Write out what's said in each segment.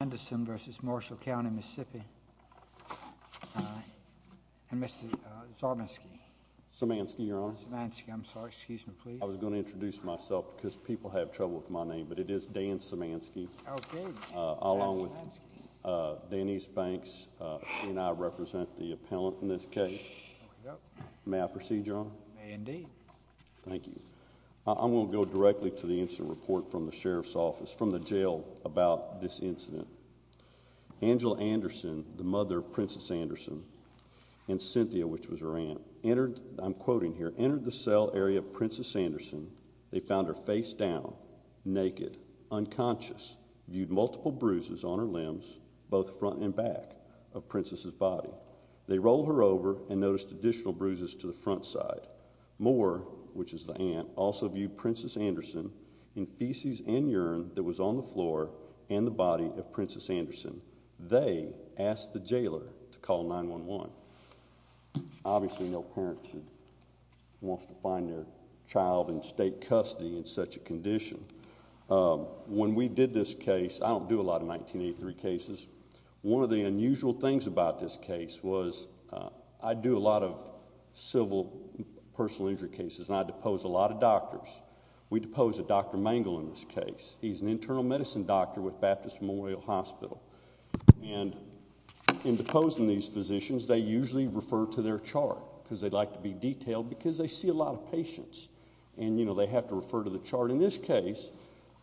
and Mr. Sarmanski. Sarmanski, Your Honor. Sarmanski, I'm sorry. Excuse me, please. I was going to introduce myself because people have trouble with my name, but it is Dan Sarmanski, along with Denise Banks, and I represent the appellant in this case. May I proceed, Your Honor? May indeed. Thank you. I'm going to go directly to the incident report from the Sheriff's Office, from the jail, about this incident. Angela Anderson, the mother of Princess Anderson, and Cynthia, which was her aunt, entered, I'm quoting here, entered the cell area of Princess Anderson. They found her face down, naked, unconscious, viewed multiple bruises on her limbs, both front and back, of Princess's body. They rolled her over and noticed additional bruises to the front side. Moore, which is the aunt, also viewed Princess Anderson in feces and urine that was on the floor and the body of Princess Anderson. They asked the jailer to call 911. Obviously, no parents would want to find their child in state custody in such a condition. When we did this case, I don't do a lot of 1983 cases, one of the unusual things about this case was I do a lot of civil personal injury cases and I depose a lot of doctors. We depose a Dr. Mangel in this case. He's an internal medicine doctor with Baptist Memorial Hospital. And in deposing these physicians, they usually refer to their chart because they like to be detailed because they see a lot of patients and, you know, they have to refer to the chart. But in this case,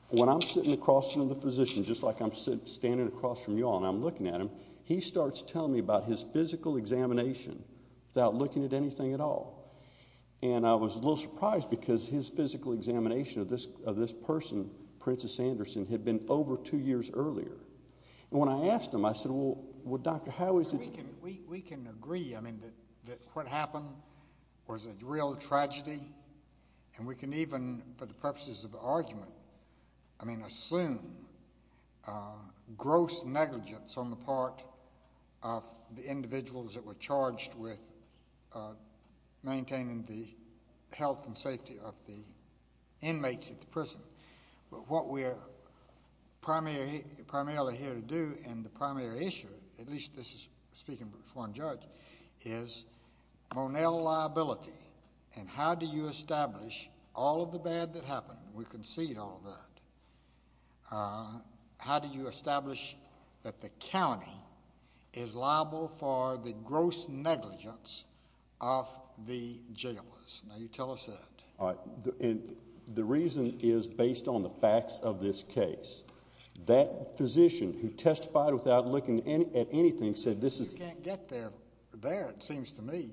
when I'm sitting across from the physician, just like I'm standing across from you all and I'm looking at him, he starts telling me about his physical examination without looking at anything at all. And I was a little surprised because his physical examination of this person, Princess Anderson, had been over two years earlier. And when I asked him, I said, well, Dr., how is it? We can agree, I mean, that what happened was a real tragedy. And we can even, for the purposes of argument, I mean, assume gross negligence on the part of the individuals that were charged with maintaining the health and safety of the inmates at the prison. But what we're primarily here to do and the primary issue, at least this is speaking from one judge, is Monell liability and how do you establish all of the bad that happened? We concede all of that. How do you establish that the county is liable for the gross negligence of the jailers? Now, you tell us that. All right. And the reason is based on the facts of this case. That physician who testified without looking at anything said this is. You can't get there. There, it seems to me,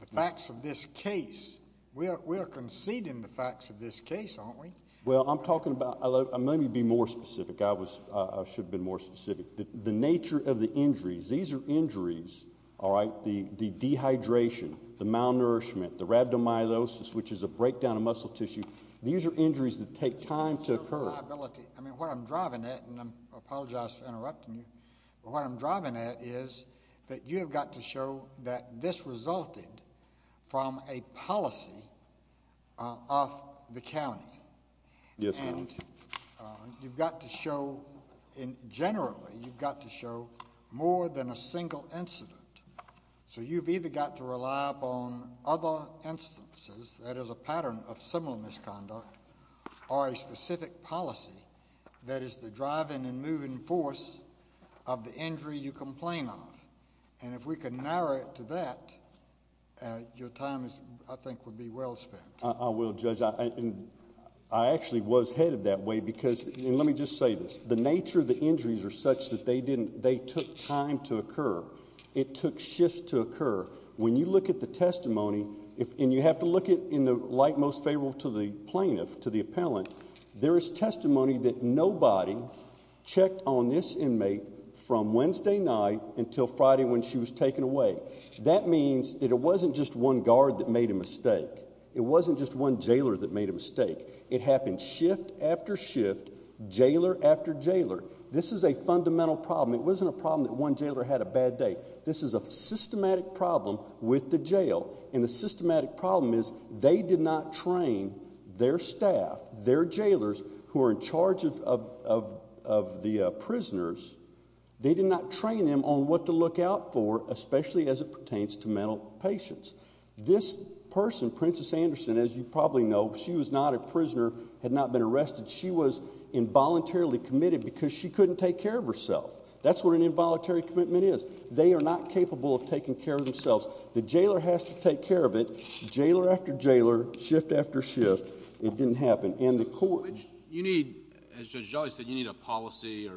the facts of this case. We are conceding the facts of this case, aren't we? Well, I'm talking about let me be more specific. I was I should have been more specific. The nature of the injuries. These are injuries. All right. The dehydration, the malnourishment, the rhabdomyolysis, which is a breakdown of muscle tissue. These are injuries that take time to occur. I mean, what I'm driving at and I apologize for interrupting you, but what I'm driving at is that you have got to show that this resulted from a policy of the county. Yes. And you've got to show in generally you've got to show more than a single incident. So you've either got to rely upon other instances that is a pattern of similar misconduct or a specific policy that is the driving and moving force of the injury you complain of. And if we can narrow it to that, your time, I think, would be well spent. I will judge. And I actually was headed that way because let me just say this. The nature of the injuries are such that they didn't they took time to occur. It took shifts to occur. When you look at the testimony and you have to look at in the light most favorable to the plaintiff, to the appellant, there is testimony that nobody checked on this inmate from Wednesday night until Friday when she was taken away. That means that it wasn't just one guard that made a mistake. It wasn't just one jailer that made a mistake. It happened shift after shift, jailer after jailer. This is a fundamental problem. It wasn't a problem that one jailer had a bad day. This is a systematic problem with the jail. And the systematic problem is they did not train their staff, their jailers who are in charge of the prisoners, they did not train them on what to look out for, especially as it pertains to mental patients. This person, Princess Anderson, as you probably know, she was not a prisoner, had not been arrested. She was involuntarily committed because she couldn't take care of herself. That's what an involuntary commitment is. They are not capable of taking care of themselves. The jailer has to take care of it, jailer after jailer, shift after shift. It didn't happen. You need, as Judge Jolly said, you need a policy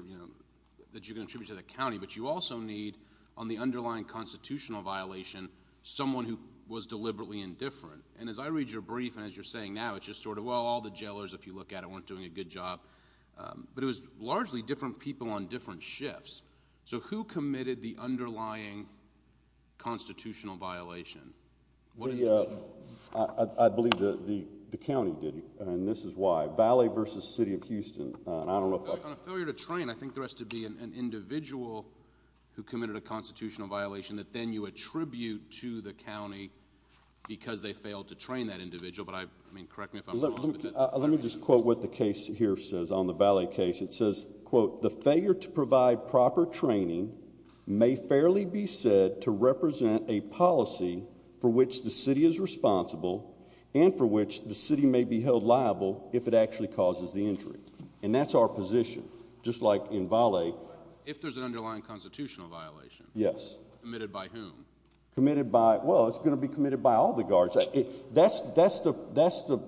that you can attribute to the county, but you also need, on the underlying constitutional violation, someone who was deliberately indifferent. And as I read your brief and as you're saying now, it's just sort of, well, all the jailers, if you look at it, weren't doing a good job. But it was largely different people on different shifts. So who committed the underlying constitutional violation? I believe the county did, and this is why. Valley versus City of Houston. On a failure to train, I think there has to be an individual who committed a constitutional violation that then you attribute to the county because they failed to train that individual. Let me just quote what the case here says on the Valley case. It says, quote, The failure to provide proper training may fairly be said to represent a policy for which the city is responsible and for which the city may be held liable if it actually causes the injury. And that's our position, just like in Valley. If there's an underlying constitutional violation? Yes. Committed by whom? Well, it's going to be committed by all the guards. That's the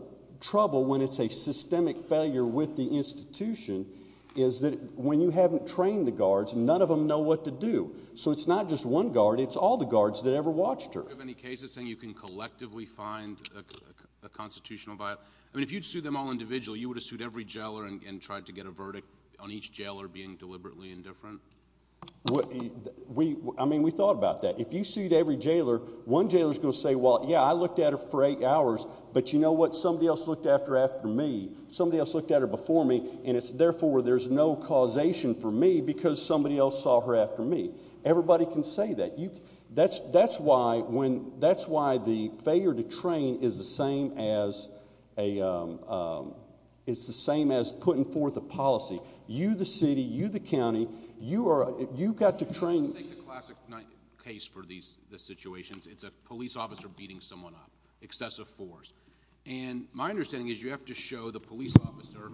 trouble when it's a systemic failure with the institution, is that when you haven't trained the guards, none of them know what to do. So it's not just one guard. It's all the guards that ever watched her. Do you have any cases saying you can collectively find a constitutional violation? I mean, if you'd sued them all individually, you would have sued every jailer and tried to get a verdict on each jailer being deliberately indifferent? We I mean, we thought about that. If you sued every jailer, one jailer is going to say, well, yeah, I looked at her for eight hours, but you know what? Somebody else looked after after me. Somebody else looked at her before me. And it's therefore there's no causation for me because somebody else saw her after me. Everybody can say that you that's that's why when that's why the failure to train is the same as a. It's the same as putting forth a policy. You, the city, you, the county, you are. You've got to train a classic case for these situations. It's a police officer beating someone up excessive force. And my understanding is you have to show the police officer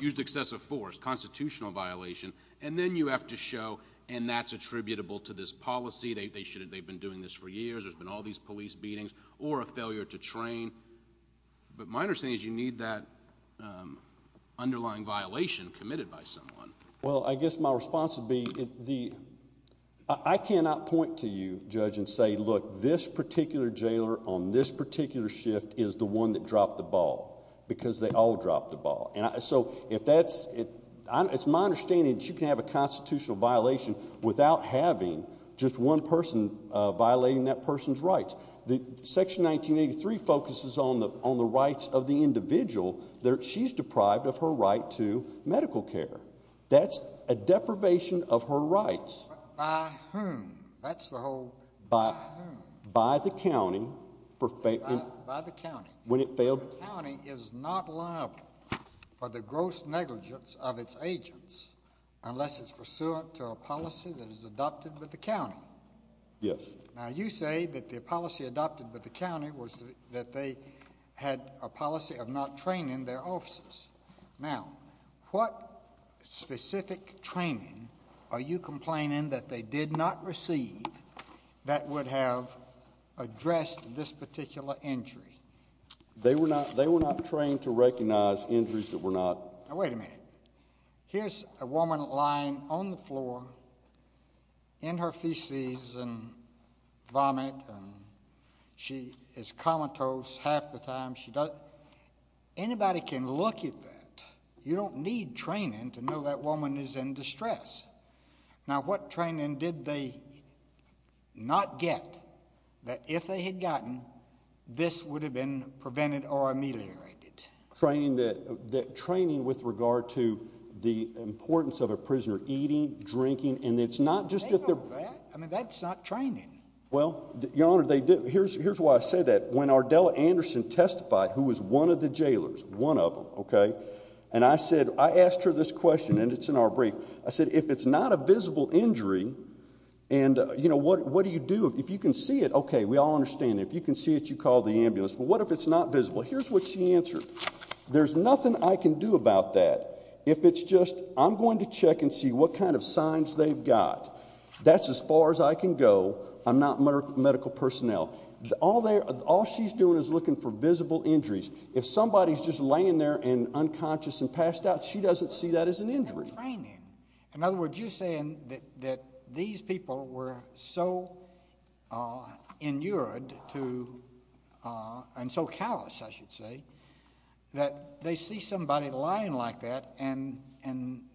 used excessive force constitutional violation. And then you have to show. And that's attributable to this policy. They should have. They've been doing this for years. There's been all these police beatings or a failure to train. But my understanding is you need that underlying violation committed by someone. Well, I guess my response would be the I cannot point to you, judge, and say, look, this particular jailer on this particular shift is the one that dropped the ball because they all dropped the ball. And so if that's it, it's my understanding that you can have a constitutional violation without having just one person violating that person's rights. Section 1983 focuses on the rights of the individual that she's deprived of her right to medical care. That's a deprivation of her rights. By whom? That's the whole. By the county. By the county. When it failed. The county is not liable for the gross negligence of its agents unless it's pursuant to a policy that is adopted by the county. Yes. Now, you say that the policy adopted by the county was that they had a policy of not training their officers. Now, what specific training are you complaining that they did not receive that would have addressed this particular injury? They were not they were not trained to recognize injuries that were not. Wait a minute. Here's a woman lying on the floor. In her feces and vomit. She is comatose half the time she does. Anybody can look at that. You don't need training to know that woman is in distress. Now, what training did they not get that if they had gotten this would have been prevented or ameliorated? Training with regard to the importance of a prisoner eating, drinking, and it's not just. I mean, that's not training. Well, Your Honor, they did. Here's why I say that. When Ardella Anderson testified, who was one of the jailers, one of them, OK, and I said I asked her this question and it's in our brief. I said, if it's not a visible injury and, you know, what do you do if you can see it? OK, we all understand. If you can see it, you call the ambulance. But what if it's not visible? Here's what she answered. There's nothing I can do about that. If it's just I'm going to check and see what kind of signs they've got, that's as far as I can go. I'm not medical personnel. All she's doing is looking for visible injuries. If somebody's just laying there and unconscious and passed out, she doesn't see that as an injury. No training. In other words, you're saying that these people were so inured to and so callous, I should say, that they see somebody lying like that and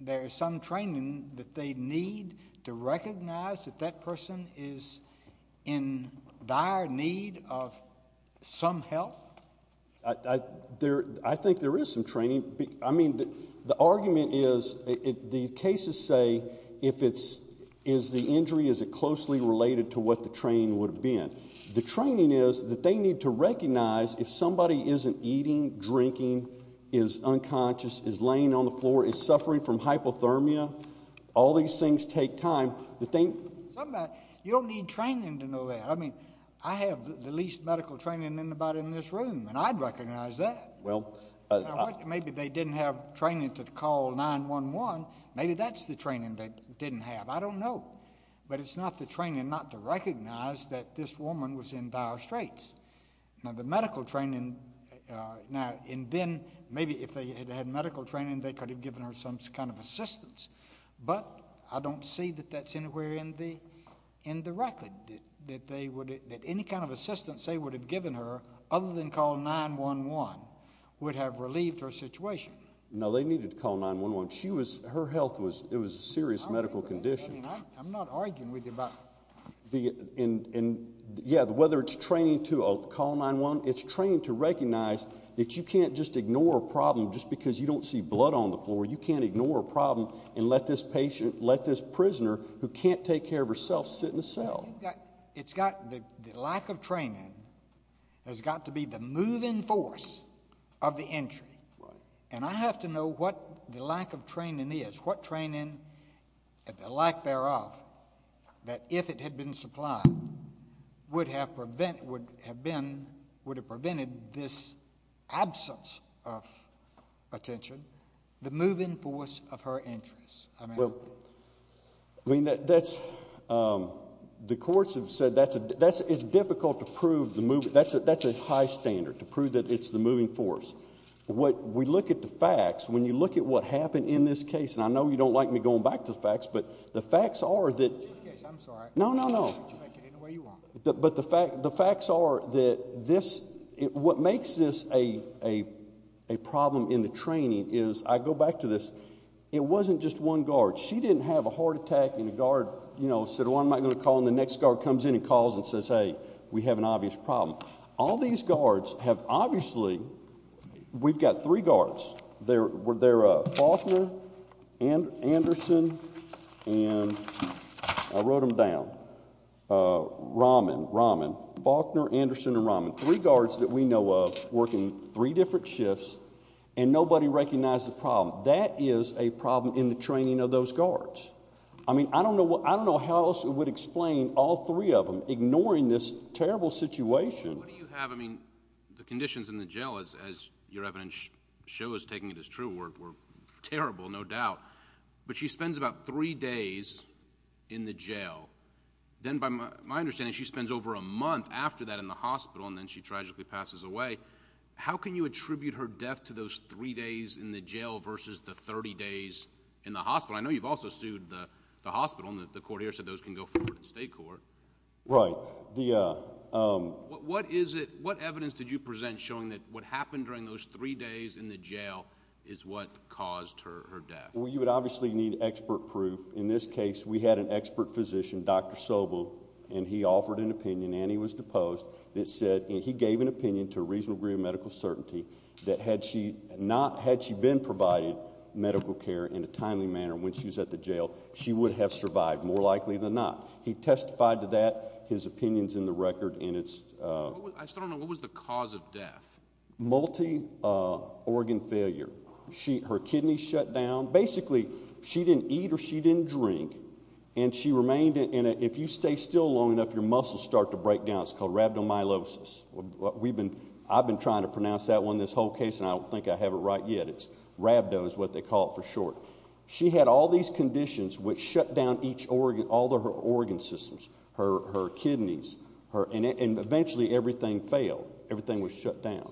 there's some training that they need to recognize that that person is in dire need of some help? I think there is some training. I mean, the argument is the cases say if it's the injury, is it closely related to what the training would have been? The training is that they need to recognize if somebody isn't eating, drinking, is unconscious, is laying on the floor, is suffering from hypothermia, all these things take time. You don't need training to know that. I mean, I have the least medical training in this room, and I'd recognize that. Maybe they didn't have training to call 911. Maybe that's the training they didn't have. I don't know. But it's not the training not to recognize that this woman was in dire straits. Now, the medical training, and then maybe if they had had medical training, they could have given her some kind of assistance. But I don't see that that's anywhere in the record, that any kind of assistance they would have given her other than call 911 would have relieved her situation. No, they needed to call 911. Her health was a serious medical condition. I'm not arguing with you about that. Yeah, whether it's training to call 911, it's training to recognize that you can't just ignore a problem just because you don't see blood on the floor. You can't ignore a problem and let this patient, let this prisoner who can't take care of herself sit in a cell. It's got the lack of training has got to be the moving force of the injury. And I have to know what the lack of training is, what training, the lack thereof, that if it had been supplied would have prevented this absence of attention. The moving force of her injuries, I mean. Well, I mean, that's, the courts have said that's a, it's difficult to prove the moving, that's a high standard to prove that it's the moving force. What, we look at the facts, when you look at what happened in this case, and I know you don't like me going back to the facts, but the facts are that. It's your case, I'm sorry. No, no, no. You can make it any way you want. But the facts are that this, what makes this a problem in the training is, I go back to this. It wasn't just one guard. She didn't have a heart attack and a guard, you know, said, well, I'm not going to call. And the next guard comes in and calls and says, hey, we have an obvious problem. All these guards have obviously, we've got three guards. They're Faulkner, Anderson, and I wrote them down. Rahman, Rahman, Faulkner, Anderson, and Rahman. Three guards that we know of working three different shifts, and nobody recognized the problem. That is a problem in the training of those guards. I mean, I don't know how else it would explain all three of them ignoring this terrible situation. What do you have, I mean, the conditions in the jail, as your evidence shows, taking it as true, were terrible, no doubt. But she spends about three days in the jail. Then, by my understanding, she spends over a month after that in the hospital, and then she tragically passes away. How can you attribute her death to those three days in the jail versus the 30 days in the hospital? I know you've also sued the hospital, and the court here said those can go forward to the state court. Right. What evidence did you present showing that what happened during those three days in the jail is what caused her death? Well, you would obviously need expert proof. In this case, we had an expert physician, Dr. Sobel, and he offered an opinion, and he was deposed. He gave an opinion to a reasonable degree of medical certainty that had she been provided medical care in a timely manner when she was at the jail, she would have survived, more likely than not. He testified to that, his opinion is in the record. I still don't know. What was the cause of death? Multi-organ failure. Her kidneys shut down. Basically, she didn't eat or she didn't drink, and she remained in it. If you stay still long enough, your muscles start to break down. It's called rhabdomyolysis. I've been trying to pronounce that one this whole case, and I don't think I have it right yet. It's rhabdo is what they call it for short. She had all these conditions which shut down each organ, all of her organ systems, her kidneys, and eventually everything failed. Everything was shut down.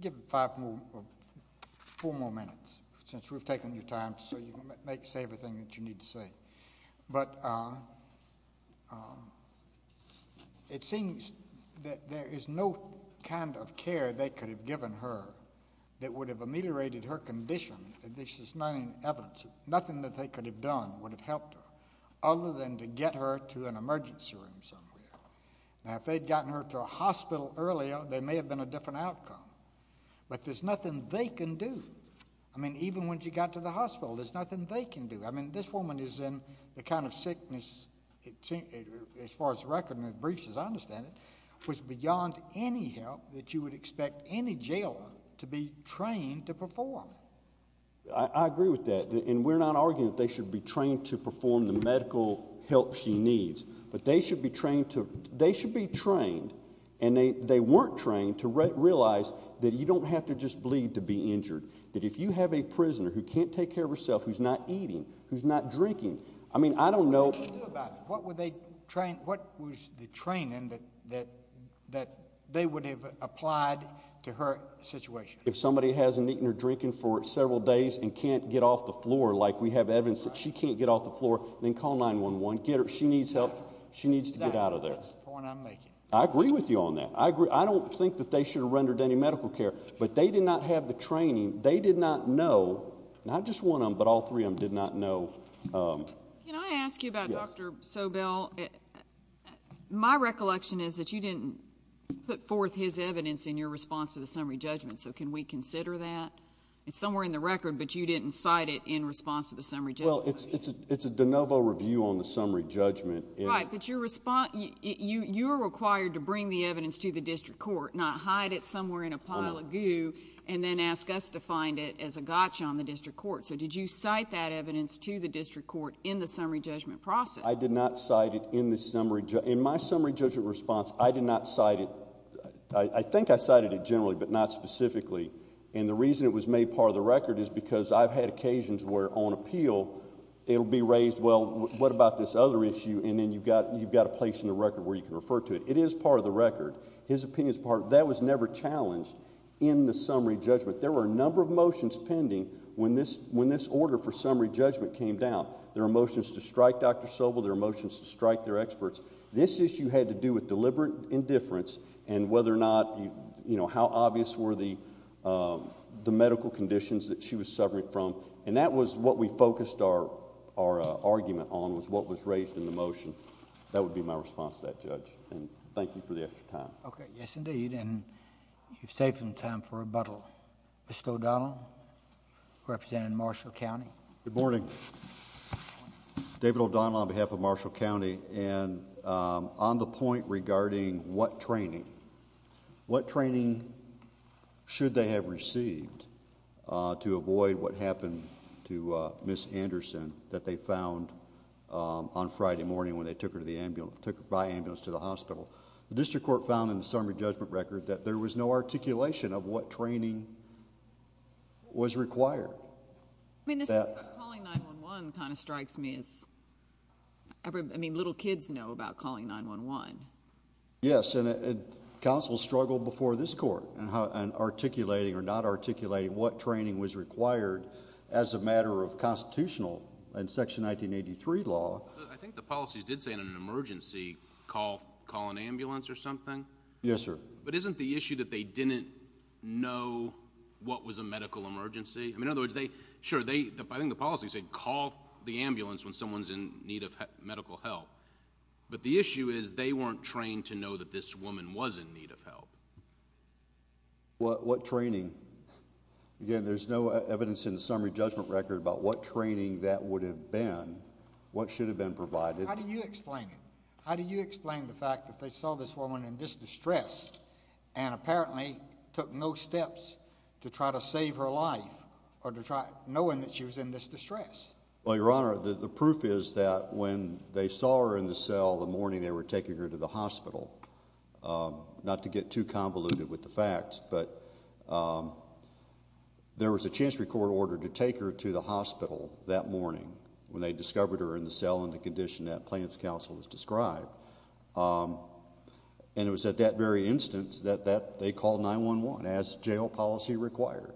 Give four more minutes since we've taken your time so you can say everything that you need to say. But it seems that there is no kind of care they could have given her that would have ameliorated her condition. This is not in evidence. Nothing that they could have done would have helped her other than to get her to an emergency room somewhere. Now, if they had gotten her to a hospital earlier, there may have been a different outcome, but there's nothing they can do. I mean, even when she got to the hospital, there's nothing they can do. I mean, this woman is in the kind of sickness, as far as the record and the briefs, as I understand it, was beyond any help that you would expect any jailer to be trained to perform. I agree with that, and we're not arguing that they should be trained to perform the medical help she needs, but they should be trained, and they weren't trained to realize that you don't have to just bleed to be injured, that if you have a prisoner who can't take care of herself, who's not eating, who's not drinking, I mean, I don't know. What would they do about it? What was the training that they would have applied to her situation? If somebody hasn't eaten or drinking for several days and can't get off the floor, like we have evidence that she can't get off the floor, then call 911. She needs help. She needs to get out of there. Exactly. That's the point I'm making. I agree with you on that. I don't think that they should have rendered any medical care, but they did not have the training. They did not know, not just one of them, but all three of them did not know. Can I ask you about Dr. Sobel? My recollection is that you didn't put forth his evidence in your response to the summary judgment, so can we consider that? It's somewhere in the record, but you didn't cite it in response to the summary judgment. Well, it's a de novo review on the summary judgment. Right, but you're required to bring the evidence to the district court, not hide it somewhere in a pile of goo and then ask us to find it as a gotcha on the district court. So did you cite that evidence to the district court in the summary judgment process? I did not cite it in my summary judgment response. I did not cite it. I think I cited it generally, but not specifically. And the reason it was made part of the record is because I've had occasions where on appeal it will be raised, well, what about this other issue, and then you've got a place in the record where you can refer to it. It is part of the record. His opinion is part of it. That was never challenged in the summary judgment. There were a number of motions pending when this order for summary judgment came down. There were motions to strike Dr. Sobel. There were motions to strike their experts. This issue had to do with deliberate indifference and whether or not, you know, how obvious were the medical conditions that she was suffering from, and that was what we focused our argument on was what was raised in the motion. That would be my response to that, Judge, and thank you for the extra time. Okay, yes, indeed, and you've saved some time for rebuttal. Mr. O'Donnell, representing Marshall County. Good morning. David O'Donnell on behalf of Marshall County, and on the point regarding what training, what training should they have received to avoid what happened to Ms. Anderson that they found on Friday morning when they took her by ambulance to the hospital. The district court found in the summary judgment record that there was no articulation of what training was required. I mean, calling 911 kind of strikes me as, I mean, little kids know about calling 911. Yes, and counsel struggled before this court in articulating or not articulating what training was required as a matter of constitutional in Section 1983 law. I think the policies did say in an emergency call an ambulance or something. Yes, sir. But isn't the issue that they didn't know what was a medical emergency? I mean, in other words, sure, I think the policies say call the ambulance when someone's in need of medical help, but the issue is they weren't trained to know that this woman was in need of help. What training? Again, there's no evidence in the summary judgment record about what training that would have been, what should have been provided. How do you explain it? How do you explain the fact that they saw this woman in this distress and apparently took no steps to try to save her life or to try knowing that she was in this distress? Well, Your Honor, the proof is that when they saw her in the cell the morning they were taking her to the hospital, not to get too convoluted with the facts, but there was a chance record order to take her to the hospital that morning when they discovered her in the cell in the condition that plaintiff's counsel has described. And it was at that very instance that they called 911 as jail policy required.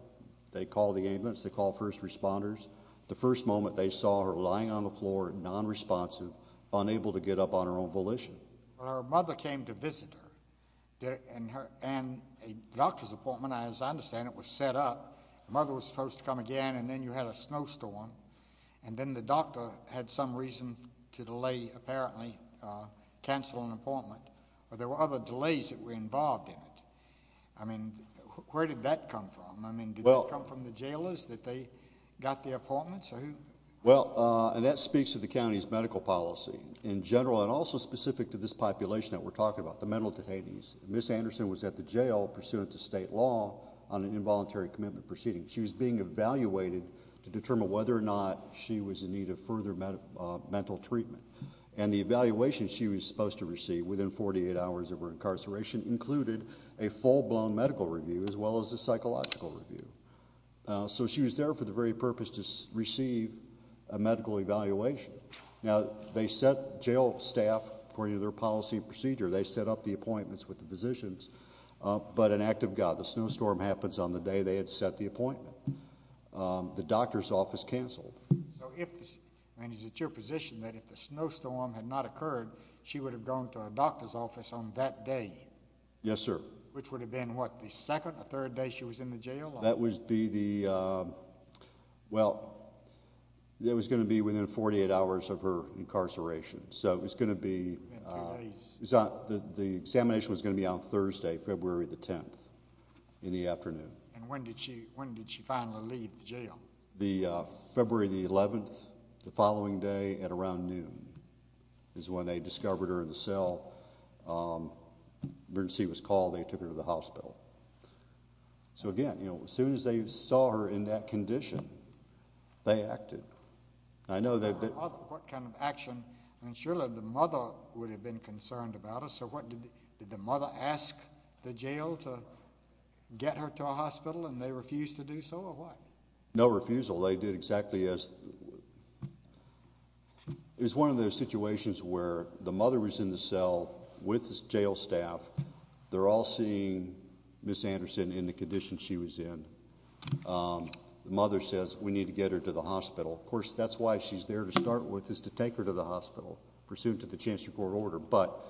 They called the ambulance. They called first responders. The first moment they saw her lying on the floor, nonresponsive, unable to get up on her own volition. Her mother came to visit her, and a doctor's appointment, as I understand it, was set up. The mother was supposed to come again, and then you had a snowstorm, and then the doctor had some reason to delay, apparently, cancel an appointment, but there were other delays that were involved in it. I mean, where did that come from? I mean, did that come from the jailers that they got the appointments, or who? Well, and that speaks to the county's medical policy in general and also specific to this population that we're talking about, the mental detainees. Ms. Anderson was at the jail pursuant to state law on an involuntary commitment proceeding. She was being evaluated to determine whether or not she was in need of further mental treatment, and the evaluation she was supposed to receive within 48 hours of her incarceration included a full-blown medical review as well as a psychological review. So she was there for the very purpose to receive a medical evaluation. Now, they set jail staff, according to their policy procedure, they set up the appointments with the physicians, but an act of God. The snowstorm happens on the day they had set the appointment. The doctor's office canceled. So is it your position that if the snowstorm had not occurred, she would have gone to a doctor's office on that day? Yes, sir. Which would have been, what, the second or third day she was in the jail? That would be the, well, it was going to be within 48 hours of her incarceration. So it was going to be, the examination was going to be on Thursday, February the 10th, in the afternoon. And when did she finally leave the jail? February the 11th, the following day at around noon is when they discovered her in the cell. Emergency was called. They took her to the hospital. So, again, as soon as they saw her in that condition, they acted. What kind of action? And surely the mother would have been concerned about it. So what, did the mother ask the jail to get her to a hospital and they refused to do so, or what? No refusal. They did exactly as, it was one of those situations where the mother was in the cell with the jail staff. They're all seeing Ms. Anderson in the condition she was in. The mother says, we need to get her to the hospital. Of course, that's why she's there to start with, is to take her to the hospital, pursuant to the Chancellor's Court order. But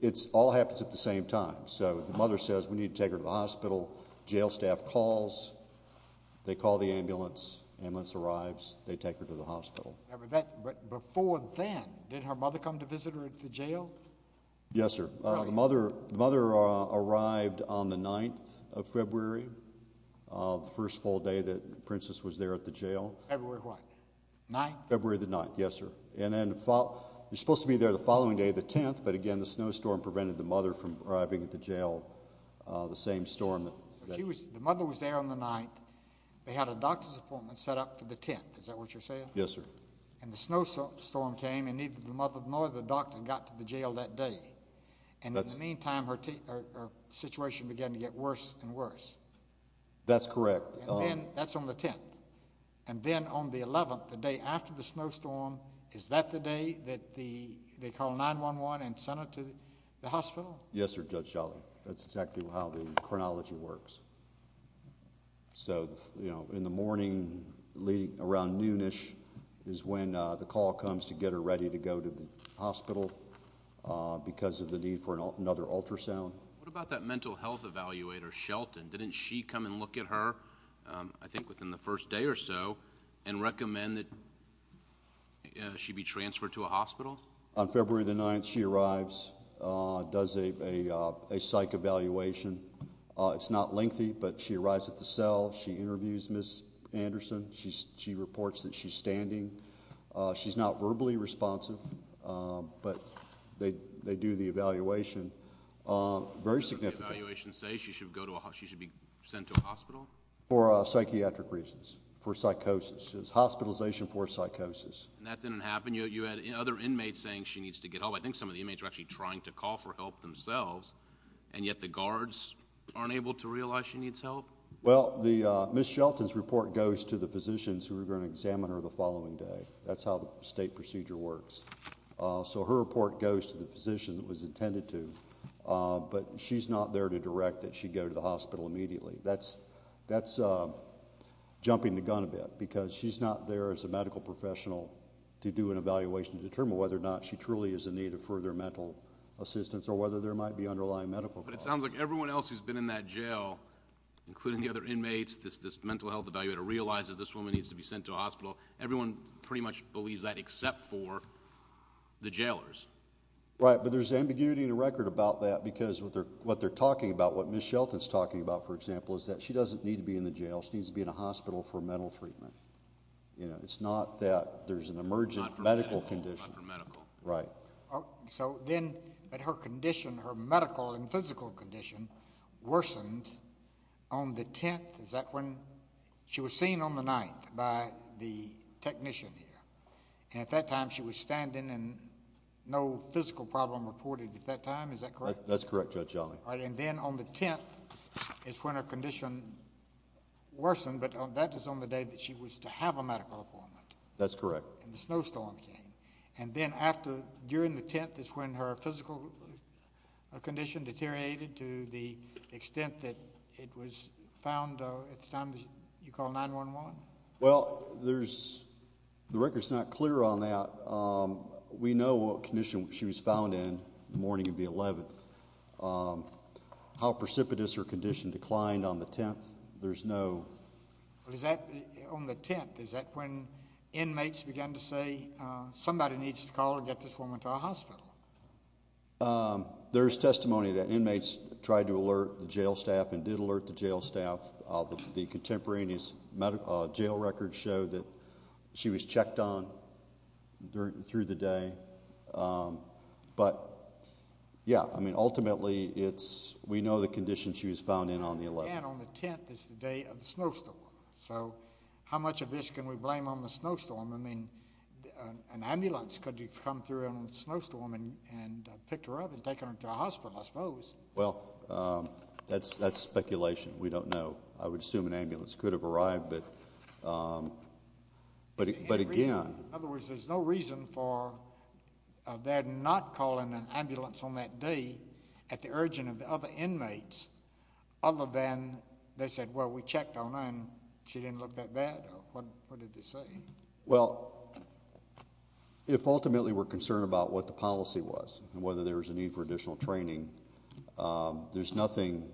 it all happens at the same time. So the mother says, we need to take her to the hospital. Jail staff calls. They call the ambulance. Ambulance arrives. They take her to the hospital. But before then, did her mother come to visit her at the jail? Yes, sir. The mother arrived on the 9th of February, the first full day that Princess was there at the jail. February what? 9th? February the 9th, yes, sir. And then you're supposed to be there the following day, the 10th. But again, the snowstorm prevented the mother from arriving at the jail, the same storm. The mother was there on the 9th. They had a doctor's appointment set up for the 10th. Is that what you're saying? Yes, sir. And the snowstorm came, and neither the mother nor the doctor got to the jail that day. And in the meantime, her situation began to get worse and worse. That's correct. And then that's on the 10th. And then on the 11th, the day after the snowstorm, is that the day that they call 911 and send her to the hospital? Yes, sir, Judge Shelley. That's exactly how the chronology works. So, you know, in the morning around noon-ish is when the call comes to get her ready to go to the hospital because of the need for another ultrasound. What about that mental health evaluator, Shelton? Didn't she come and look at her, I think within the first day or so, and recommend that she be transferred to a hospital? On February the 9th, she arrives, does a psych evaluation. It's not lengthy, but she arrives at the cell. She interviews Ms. Anderson. She reports that she's standing. She's not verbally responsive, but they do the evaluation very significantly. The evaluation says she should be sent to a hospital? For psychiatric reasons, for psychosis. It's hospitalization for psychosis. And that didn't happen? You had other inmates saying she needs to get help. I think some of the inmates were actually trying to call for help themselves, and yet the guards aren't able to realize she needs help? Well, Ms. Shelton's report goes to the physicians who are going to examine her the following day. That's how the state procedure works. So her report goes to the physician that it was intended to, but she's not there to direct that she go to the hospital immediately. That's jumping the gun a bit because she's not there as a medical professional to do an evaluation and determine whether or not she truly is in need of further mental assistance or whether there might be underlying medical causes. But it sounds like everyone else who's been in that jail, including the other inmates, this mental health evaluator realizes this woman needs to be sent to a hospital. Everyone pretty much believes that except for the jailers. Right, but there's ambiguity in the record about that because what they're talking about, what Ms. Shelton's talking about, for example, is that she doesn't need to be in the jail. She needs to be in a hospital for mental treatment. It's not that there's an emergent medical condition. Not for medical. Right. So then her condition, her medical and physical condition, worsened on the 10th. Is that when she was seen on the 9th by the technician here? And at that time she was standing and no physical problem reported at that time. Is that correct? That's correct, Judge Yawley. And then on the 10th is when her condition worsened, but that is on the day that she was to have a medical appointment. That's correct. And the snowstorm came. And then during the 10th is when her physical condition deteriorated to the extent that it was found at the time you call 911? Well, the record's not clear on that. We know what condition she was found in the morning of the 11th, how precipitous her condition declined on the 10th. Is that on the 10th? Is that when inmates began to say somebody needs to call or get this woman to a hospital? There's testimony that inmates tried to alert the jail staff and did alert the jail staff. The contemporaneous jail records show that she was checked on through the day. But, yeah, I mean, ultimately we know the condition she was found in on the 11th. And then on the 10th is the day of the snowstorm. So how much of this can we blame on the snowstorm? I mean, an ambulance could have come through in the snowstorm and picked her up and taken her to a hospital, I suppose. Well, that's speculation. We don't know. I would assume an ambulance could have arrived. But, again— In other words, there's no reason for their not calling an ambulance on that day at the urging of the other inmates other than they said, well, we checked on her and she didn't look that bad. What did they say? Well, if ultimately we're concerned about what the policy was and whether there was a need for additional training, there's nothing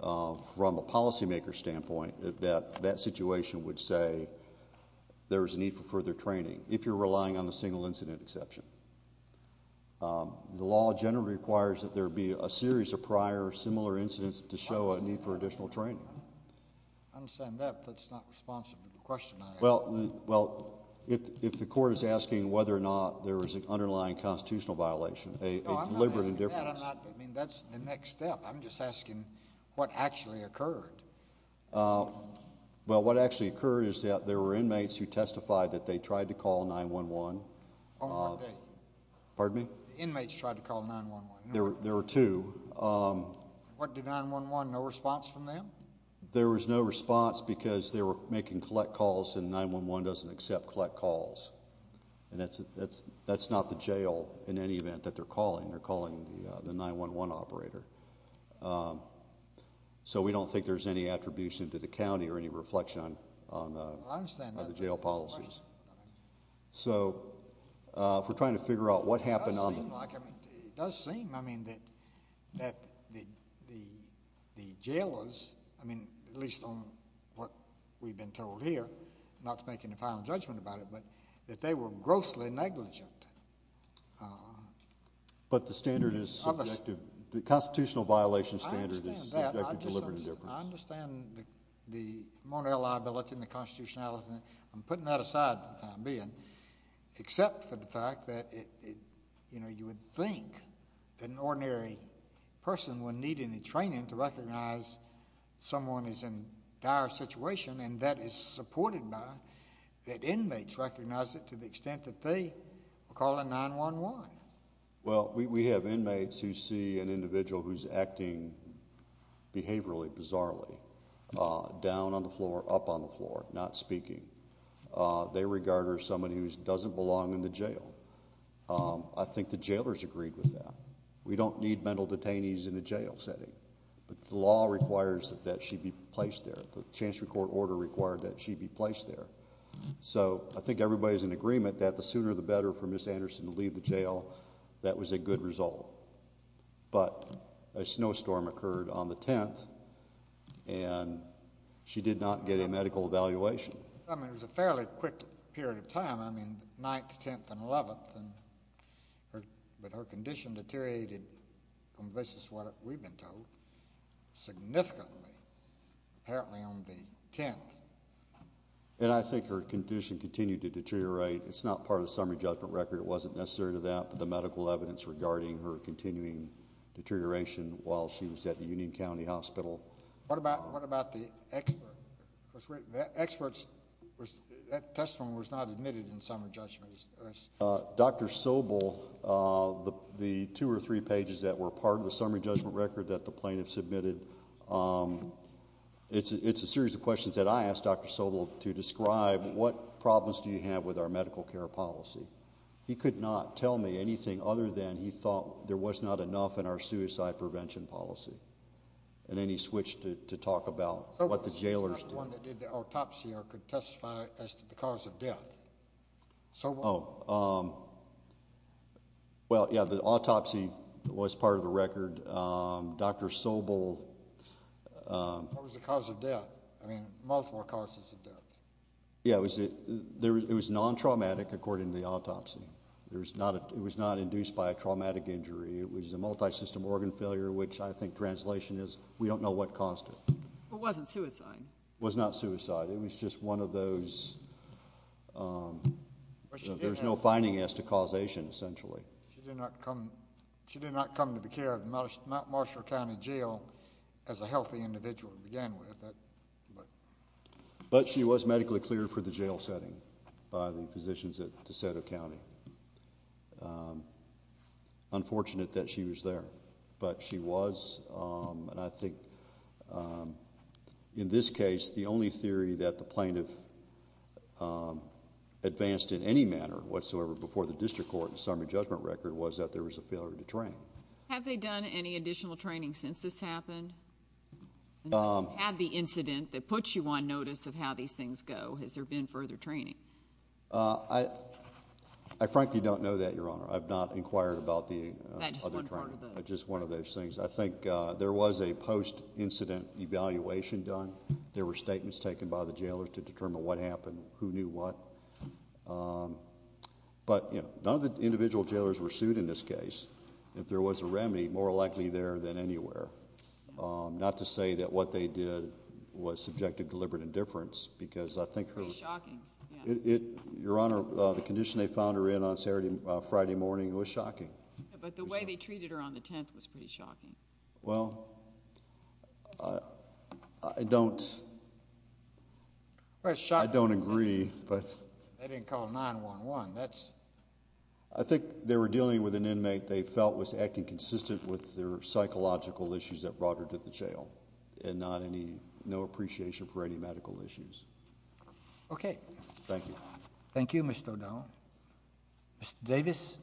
from a policymaker's standpoint that that situation would say there was a need for further training if you're relying on a single incident exception. The law generally requires that there be a series of prior similar incidents to show a need for additional training. I understand that, but that's not responsive to the question I asked. Well, if the court is asking whether or not there was an underlying constitutional violation, a deliberate indifference— No, I'm not asking that. I mean, that's the next step. I'm just asking what actually occurred. Well, what actually occurred is that there were inmates who testified that they tried to call 911. On what day? Pardon me? The inmates tried to call 911. There were two. What did 911—no response from them? There was no response because they were making collect calls and 911 doesn't accept collect calls, and that's not the jail in any event that they're calling. They're calling the 911 operator. So we don't think there's any attribution to the county or any reflection on the jail policies. So if we're trying to figure out what happened on the— It does seem like—I mean, it does seem, I mean, that the jailers, I mean, at least on what we've been told here, not to make any final judgment about it, but that they were grossly negligent. But the standard is subjective. The constitutional violation standard is subjective deliberate indifference. I understand the monorail liability and the constitutionality. I'm putting that aside for the time being, except for the fact that you would think that an ordinary person would need any training to recognize someone is in a dire situation, and that is supported by that inmates recognize it to the extent that they are calling 911. Well, we have inmates who see an individual who's acting behaviorally, bizarrely, down on the floor, up on the floor, not speaking. They regard her as someone who doesn't belong in the jail. I think the jailers agreed with that. We don't need mental detainees in a jail setting. The law requires that she be placed there. The chancellery court order required that she be placed there. So I think everybody is in agreement that the sooner the better for Ms. Anderson to leave the jail. That was a good result. But a snowstorm occurred on the 10th, and she did not get a medical evaluation. I mean, it was a fairly quick period of time. I mean, 9th, 10th, and 11th. But her condition deteriorated on the basis of what we've been told significantly, apparently on the 10th. And I think her condition continued to deteriorate. It's not part of the summary judgment record. It wasn't necessarily that, but the medical evidence regarding her continuing deterioration while she was at the Union County Hospital. What about the experts? That testimony was not admitted in summary judgment. Dr. Sobel, the two or three pages that were part of the summary judgment record that the plaintiff submitted, it's a series of questions that I asked Dr. Sobel to describe. What problems do you have with our medical care policy? He could not tell me anything other than he thought there was not enough in our suicide prevention policy. And then he switched to talk about what the jailers did. Sobel was not the one that did the autopsy or could testify as to the cause of death. Oh, well, yeah, the autopsy was part of the record. Dr. Sobel. What was the cause of death? I mean, multiple causes of death. Yeah, it was non-traumatic according to the autopsy. It was not induced by a traumatic injury. It was a multisystem organ failure, which I think translation is we don't know what caused it. It wasn't suicide. It was not suicide. It was just one of those there's no finding as to causation essentially. She did not come to the care of Mount Marshall County Jail as a healthy individual to begin with. But she was medically cleared for the jail setting by the physicians at DeSoto County. Unfortunate that she was there, but she was. And I think in this case, the only theory that the plaintiff advanced in any manner whatsoever before the district court and summary judgment record was that there was a failure to train. Have they done any additional training since this happened? Have you had the incident that puts you on notice of how these things go? Has there been further training? I frankly don't know that, Your Honor. I've not inquired about the other training. Just one of those things. I think there was a post-incident evaluation done. There were statements taken by the jailers to determine what happened, who knew what. But, you know, none of the individual jailers were sued in this case. If there was a remedy, more likely there than anywhere. Not to say that what they did was subjective deliberate indifference because I think her. Pretty shocking. Your Honor, the condition they found her in on Friday morning was shocking. But the way they treated her on the 10th was pretty shocking. Well, I don't agree. They didn't call 911. I think they were dealing with an inmate they felt was acting consistent with their psychological issues that brought her to the jail and no appreciation for any medical issues. Okay. Thank you. Thank you, Mr. O'Donnell. Mr. Davis,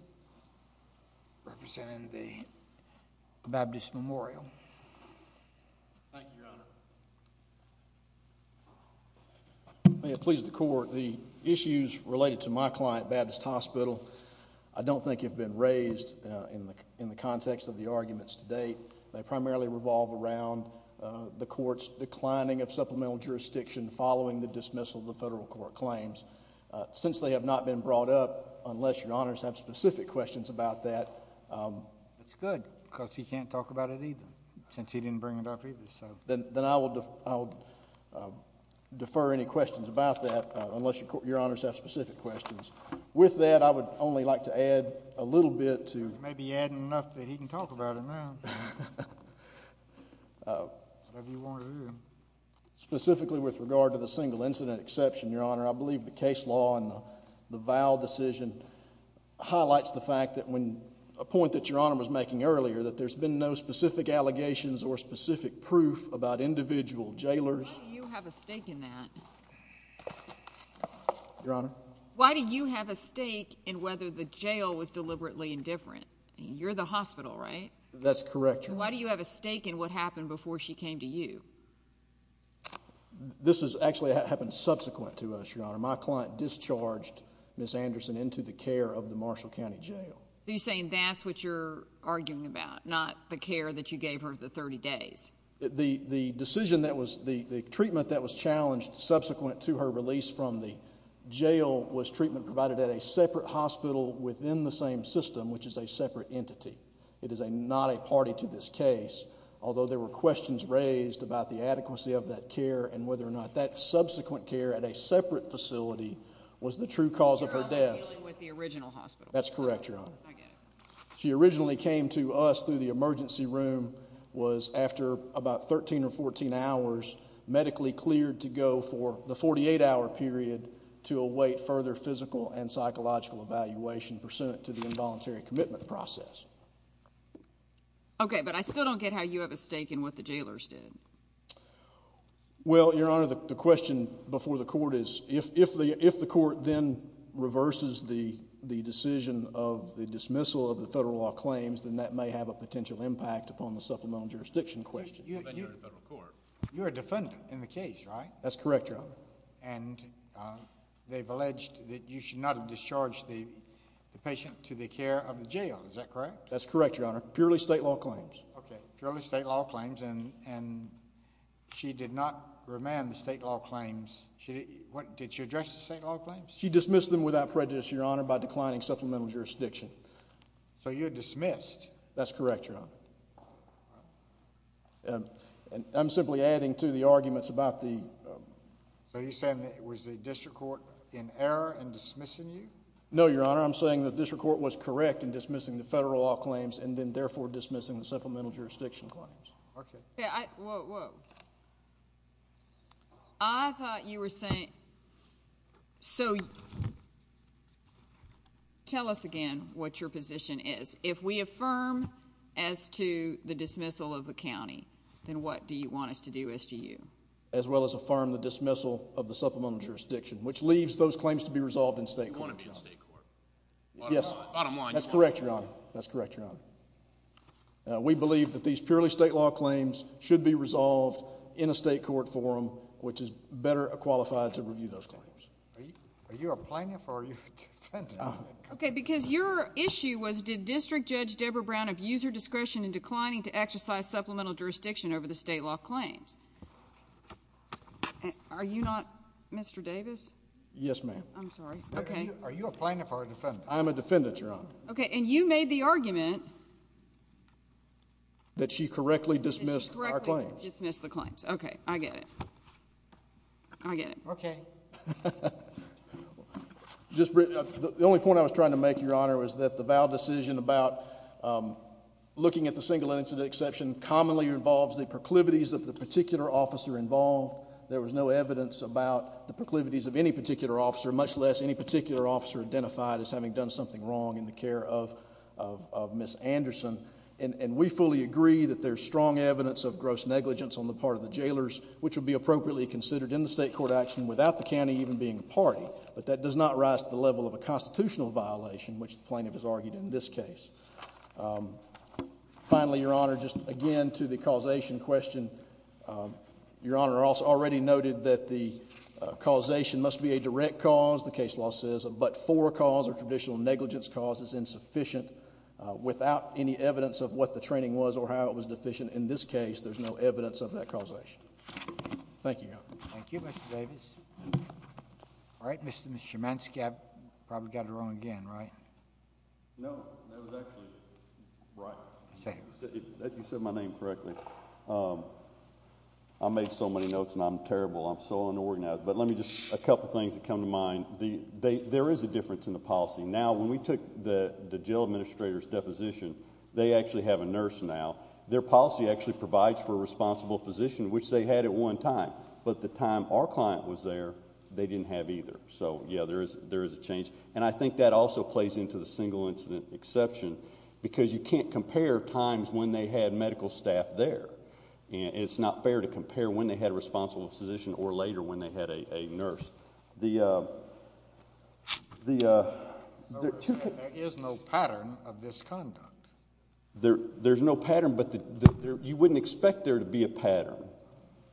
representing the Baptist Memorial. Thank you, Your Honor. May it please the Court, the issues related to my client, Baptist Hospital, I don't think have been raised in the context of the arguments to date. They primarily revolve around the Court's declining of supplemental jurisdiction following the dismissal of the federal court claims. Since they have not been brought up, unless Your Honors have specific questions about that. That's good because he can't talk about it either since he didn't bring it up either. Then I will defer any questions about that unless Your Honors have specific questions. With that, I would only like to add a little bit to Maybe you're adding enough that he can talk about it now. Whatever you want to do. Specifically with regard to the single incident exception, Your Honor, I believe the case law and the vow decision highlights the fact that when a point that Your Honor was making earlier that there's been no specific allegations or specific proof about individual jailers. Why do you have a stake in that? Your Honor? Why do you have a stake in whether the jail was deliberately indifferent? That's correct, Your Honor. And why do you have a stake in what happened before she came to you? This actually happened subsequent to us, Your Honor. My client discharged Ms. Anderson into the care of the Marshall County Jail. So you're saying that's what you're arguing about, not the care that you gave her the 30 days? The decision that was, the treatment that was challenged subsequent to her release from the jail was treatment provided at a separate hospital within the same system, which is a separate entity. It is not a party to this case, although there were questions raised about the adequacy of that care and whether or not that subsequent care at a separate facility was the true cause of her death. You're arguing with the original hospital? That's correct, Your Honor. I get it. She originally came to us through the emergency room, was, after about 13 or 14 hours, medically cleared to go for the 48-hour period to await further physical and psychological evaluation pursuant to the involuntary commitment process. Okay, but I still don't get how you have a stake in what the jailers did. Well, Your Honor, the question before the court is, if the court then reverses the decision of the dismissal of the federal law claims, then that may have a potential impact upon the supplemental jurisdiction question. You're a defendant in the case, right? That's correct, Your Honor. And they've alleged that you should not have discharged the patient to the care of the jail. Is that correct? That's correct, Your Honor. Purely state law claims. Okay, purely state law claims, and she did not remand the state law claims. Did she address the state law claims? She dismissed them without prejudice, Your Honor, by declining supplemental jurisdiction. So you're dismissed? That's correct, Your Honor. And I'm simply adding to the arguments about the... So you're saying that it was the district court in error in dismissing you? No, Your Honor. I'm saying the district court was correct in dismissing the federal law claims and then therefore dismissing the supplemental jurisdiction claims. Okay. Whoa, whoa. I thought you were saying... So, tell us again what your position is. If we affirm as to the dismissal of the county, then what do you want us to do as to you? As well as affirm the dismissal of the supplemental jurisdiction, which leaves those claims to be resolved in state court. You want to be in state court? Yes. Bottom line. That's correct, Your Honor. That's correct, Your Honor. We believe that these purely state law claims should be resolved in a state court forum, Are you a plaintiff or are you a defendant? Okay. Because your issue was, did District Judge Deborah Brown have user discretion in declining to exercise supplemental jurisdiction over the state law claims? Are you not Mr. Davis? Yes, ma'am. I'm sorry. Are you a plaintiff or a defendant? I'm a defendant, Your Honor. Okay. And you made the argument... That she correctly dismissed our claims. Correctly dismissed the claims. Okay. I get it. I get it. Okay. The only point I was trying to make, Your Honor, was that the vow decision about looking at the single incident exception commonly involves the proclivities of the particular officer involved. There was no evidence about the proclivities of any particular officer, much less any particular officer identified as having done something wrong in the care of Ms. Anderson. And we fully agree that there's strong evidence of gross negligence on the part of the jailers, which would be appropriately considered in the state court action without the county even being a party. But that does not rise to the level of a constitutional violation, which the plaintiff has argued in this case. Finally, Your Honor, just again to the causation question, Your Honor already noted that the causation must be a direct cause. The case law says a but-for cause or traditional negligence cause is insufficient without any evidence of what the training was or how it was deficient. Thank you, Your Honor. Thank you, Mr. Davis. All right, Mr. Szymanski, I probably got it wrong again, right? No, that was actually right. You said my name correctly. I made so many notes and I'm terrible. I'm so unorganized. But let me just, a couple things that come to mind. There is a difference in the policy. Now, when we took the jail administrator's deposition, they actually have a nurse now. Their policy actually provides for a responsible physician, which they had at one time. But at the time our client was there, they didn't have either. So, yeah, there is a change. And I think that also plays into the single incident exception because you can't compare times when they had medical staff there. It's not fair to compare when they had a responsible physician or later when they had a nurse. There is no pattern of this conduct.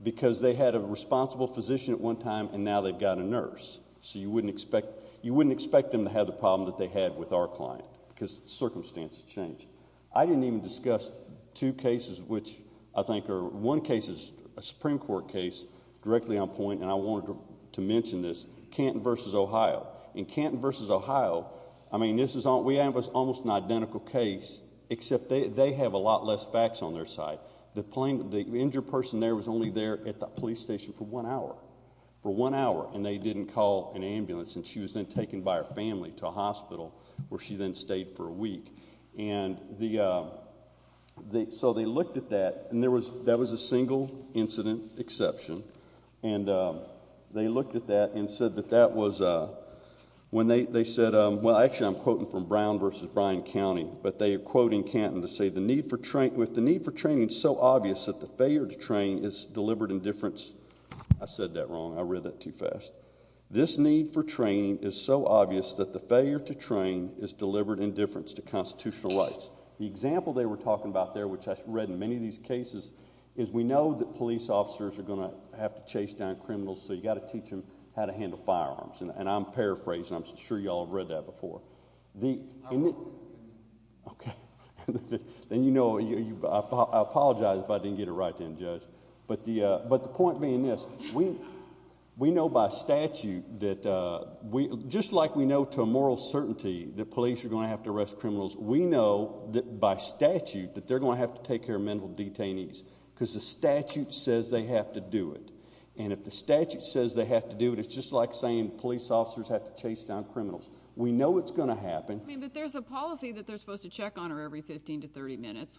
Because they had a responsible physician at one time and now they've got a nurse. So you wouldn't expect them to have the problem that they had with our client because circumstances change. I didn't even discuss two cases which I think are, one case is a Supreme Court case directly on point, and I wanted to mention this, Canton v. Ohio. In Canton v. Ohio, I mean, we have almost an identical case except they have a lot less facts on their side. The injured person there was only there at the police station for one hour, for one hour, and they didn't call an ambulance. And she was then taken by her family to a hospital where she then stayed for a week. So they looked at that, and that was a single incident exception. And they looked at that and said that that was when they said, well, actually I'm quoting from Brown v. Bryan County, but they are quoting Canton to say, with the need for training so obvious that the failure to train is delivered in difference. I said that wrong. I read that too fast. This need for training is so obvious that the failure to train is delivered in difference to constitutional rights. The example they were talking about there, which I've read in many of these cases, is we know that police officers are going to have to chase down criminals, so you've got to teach them how to handle firearms. And I'm paraphrasing. I'm sure you all have read that before. Okay. And, you know, I apologize if I didn't get it right then, Judge. But the point being this. We know by statute that just like we know to a moral certainty that police are going to have to arrest criminals, we know by statute that they're going to have to take care of mental detainees because the statute says they have to do it. And if the statute says they have to do it, it's just like saying police officers have to chase down criminals. We know it's going to happen. But there's a policy that they're supposed to check on her every 15 to 30 minutes.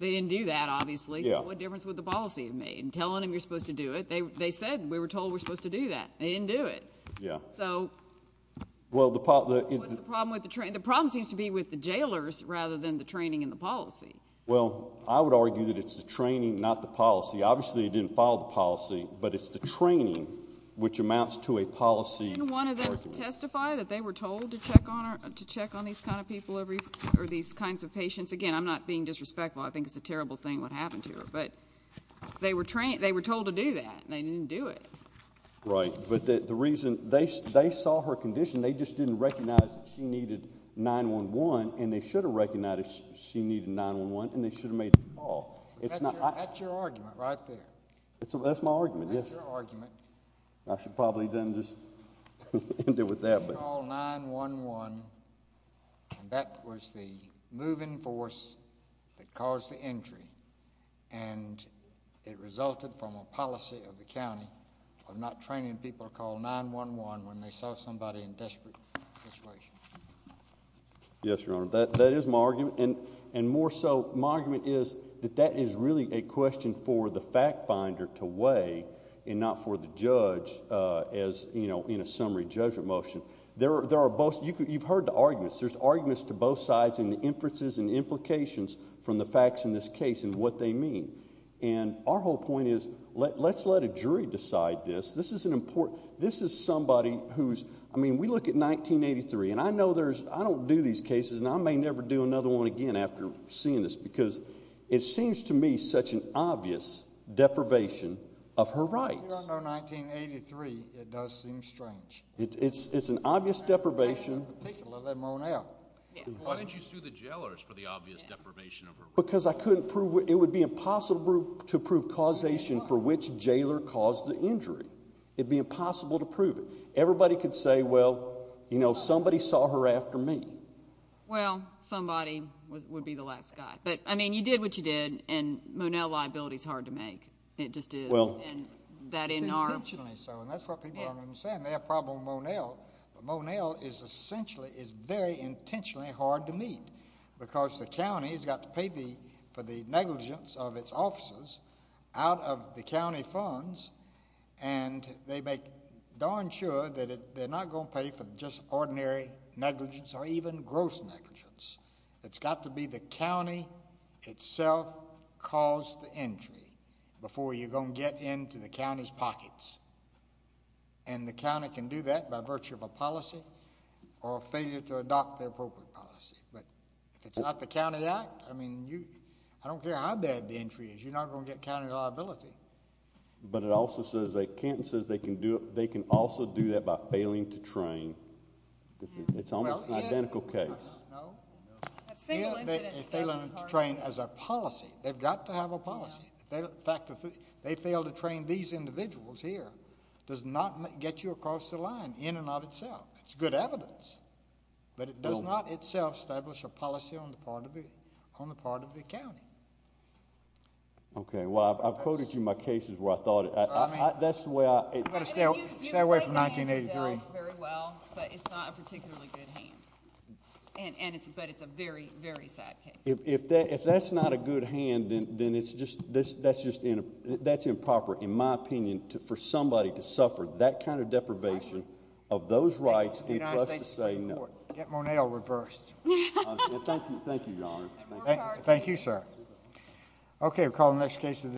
They didn't do that, obviously. So what difference would the policy have made? Telling them you're supposed to do it. They said we were told we're supposed to do that. They didn't do it. Yeah. So what's the problem with the training? The problem seems to be with the jailers rather than the training and the policy. Well, I would argue that it's the training, not the policy. Obviously they didn't follow the policy, but it's the training which amounts to a policy argument. Would you testify that they were told to check on these kinds of patients? Again, I'm not being disrespectful. I think it's a terrible thing what happened to her. But they were told to do that, and they didn't do it. Right. But the reason they saw her condition, they just didn't recognize that she needed 911, and they should have recognized she needed 911, and they should have made the call. That's your argument right there. That's my argument, yes. That's your argument. I should probably then just end it with that. They should call 911, and that was the moving force that caused the injury, and it resulted from a policy of the county of not training people to call 911 when they saw somebody in a desperate situation. Yes, Your Honor. That is my argument, and more so my argument is that that is really a question for the fact finder to weigh and not for the judge in a summary judgment motion. You've heard the arguments. There's arguments to both sides in the inferences and implications from the facts in this case and what they mean, and our whole point is let's let a jury decide this. This is somebody who's, I mean, we look at 1983, and I know I don't do these cases, and I may never do another one again after seeing this because it seems to me such an obvious deprivation of her rights. You don't know 1983. It does seem strange. It's an obvious deprivation. In particular, let Mon-El. Why didn't you sue the jailers for the obvious deprivation of her rights? Because I couldn't prove it. It would be impossible to prove causation for which jailer caused the injury. It would be impossible to prove it. Everybody could say, well, you know, somebody saw her after me. Well, somebody would be the last guy. But, I mean, you did what you did, and Mon-El liability is hard to make. It just is. It's intentionally so, and that's what people are saying. They have a problem with Mon-El. But Mon-El is essentially, is very intentionally hard to meet because the county has got to pay for the negligence of its officers out of the county funds, and they make darn sure that they're not going to pay for just ordinary negligence or even gross negligence. It's got to be the county itself caused the injury before you're going to get into the county's pockets. And the county can do that by virtue of a policy or a failure to adopt the appropriate policy. But if it's not the county act, I mean, I don't care how bad the injury is. You're not going to get county liability. But it also says that Kenton says they can also do that by failing to train. It's almost an identical case. I don't know. A single incident is hard enough. Failing to train as a policy. They've got to have a policy. The fact that they failed to train these individuals here does not get you across the line in and of itself. It's good evidence. But it does not itself establish a policy on the part of the county. Okay. Well, I've quoted you my cases where I thought it. That's the way I... Stay away from 1983. But it's not a particularly good hand. But it's a very, very sad case. If that's not a good hand, then that's improper, in my opinion, for somebody to suffer that kind of deprivation of those rights and plus to say no. Get Monell reversed. Thank you, Your Honor. Thank you, sir. Okay. We'll call the next case.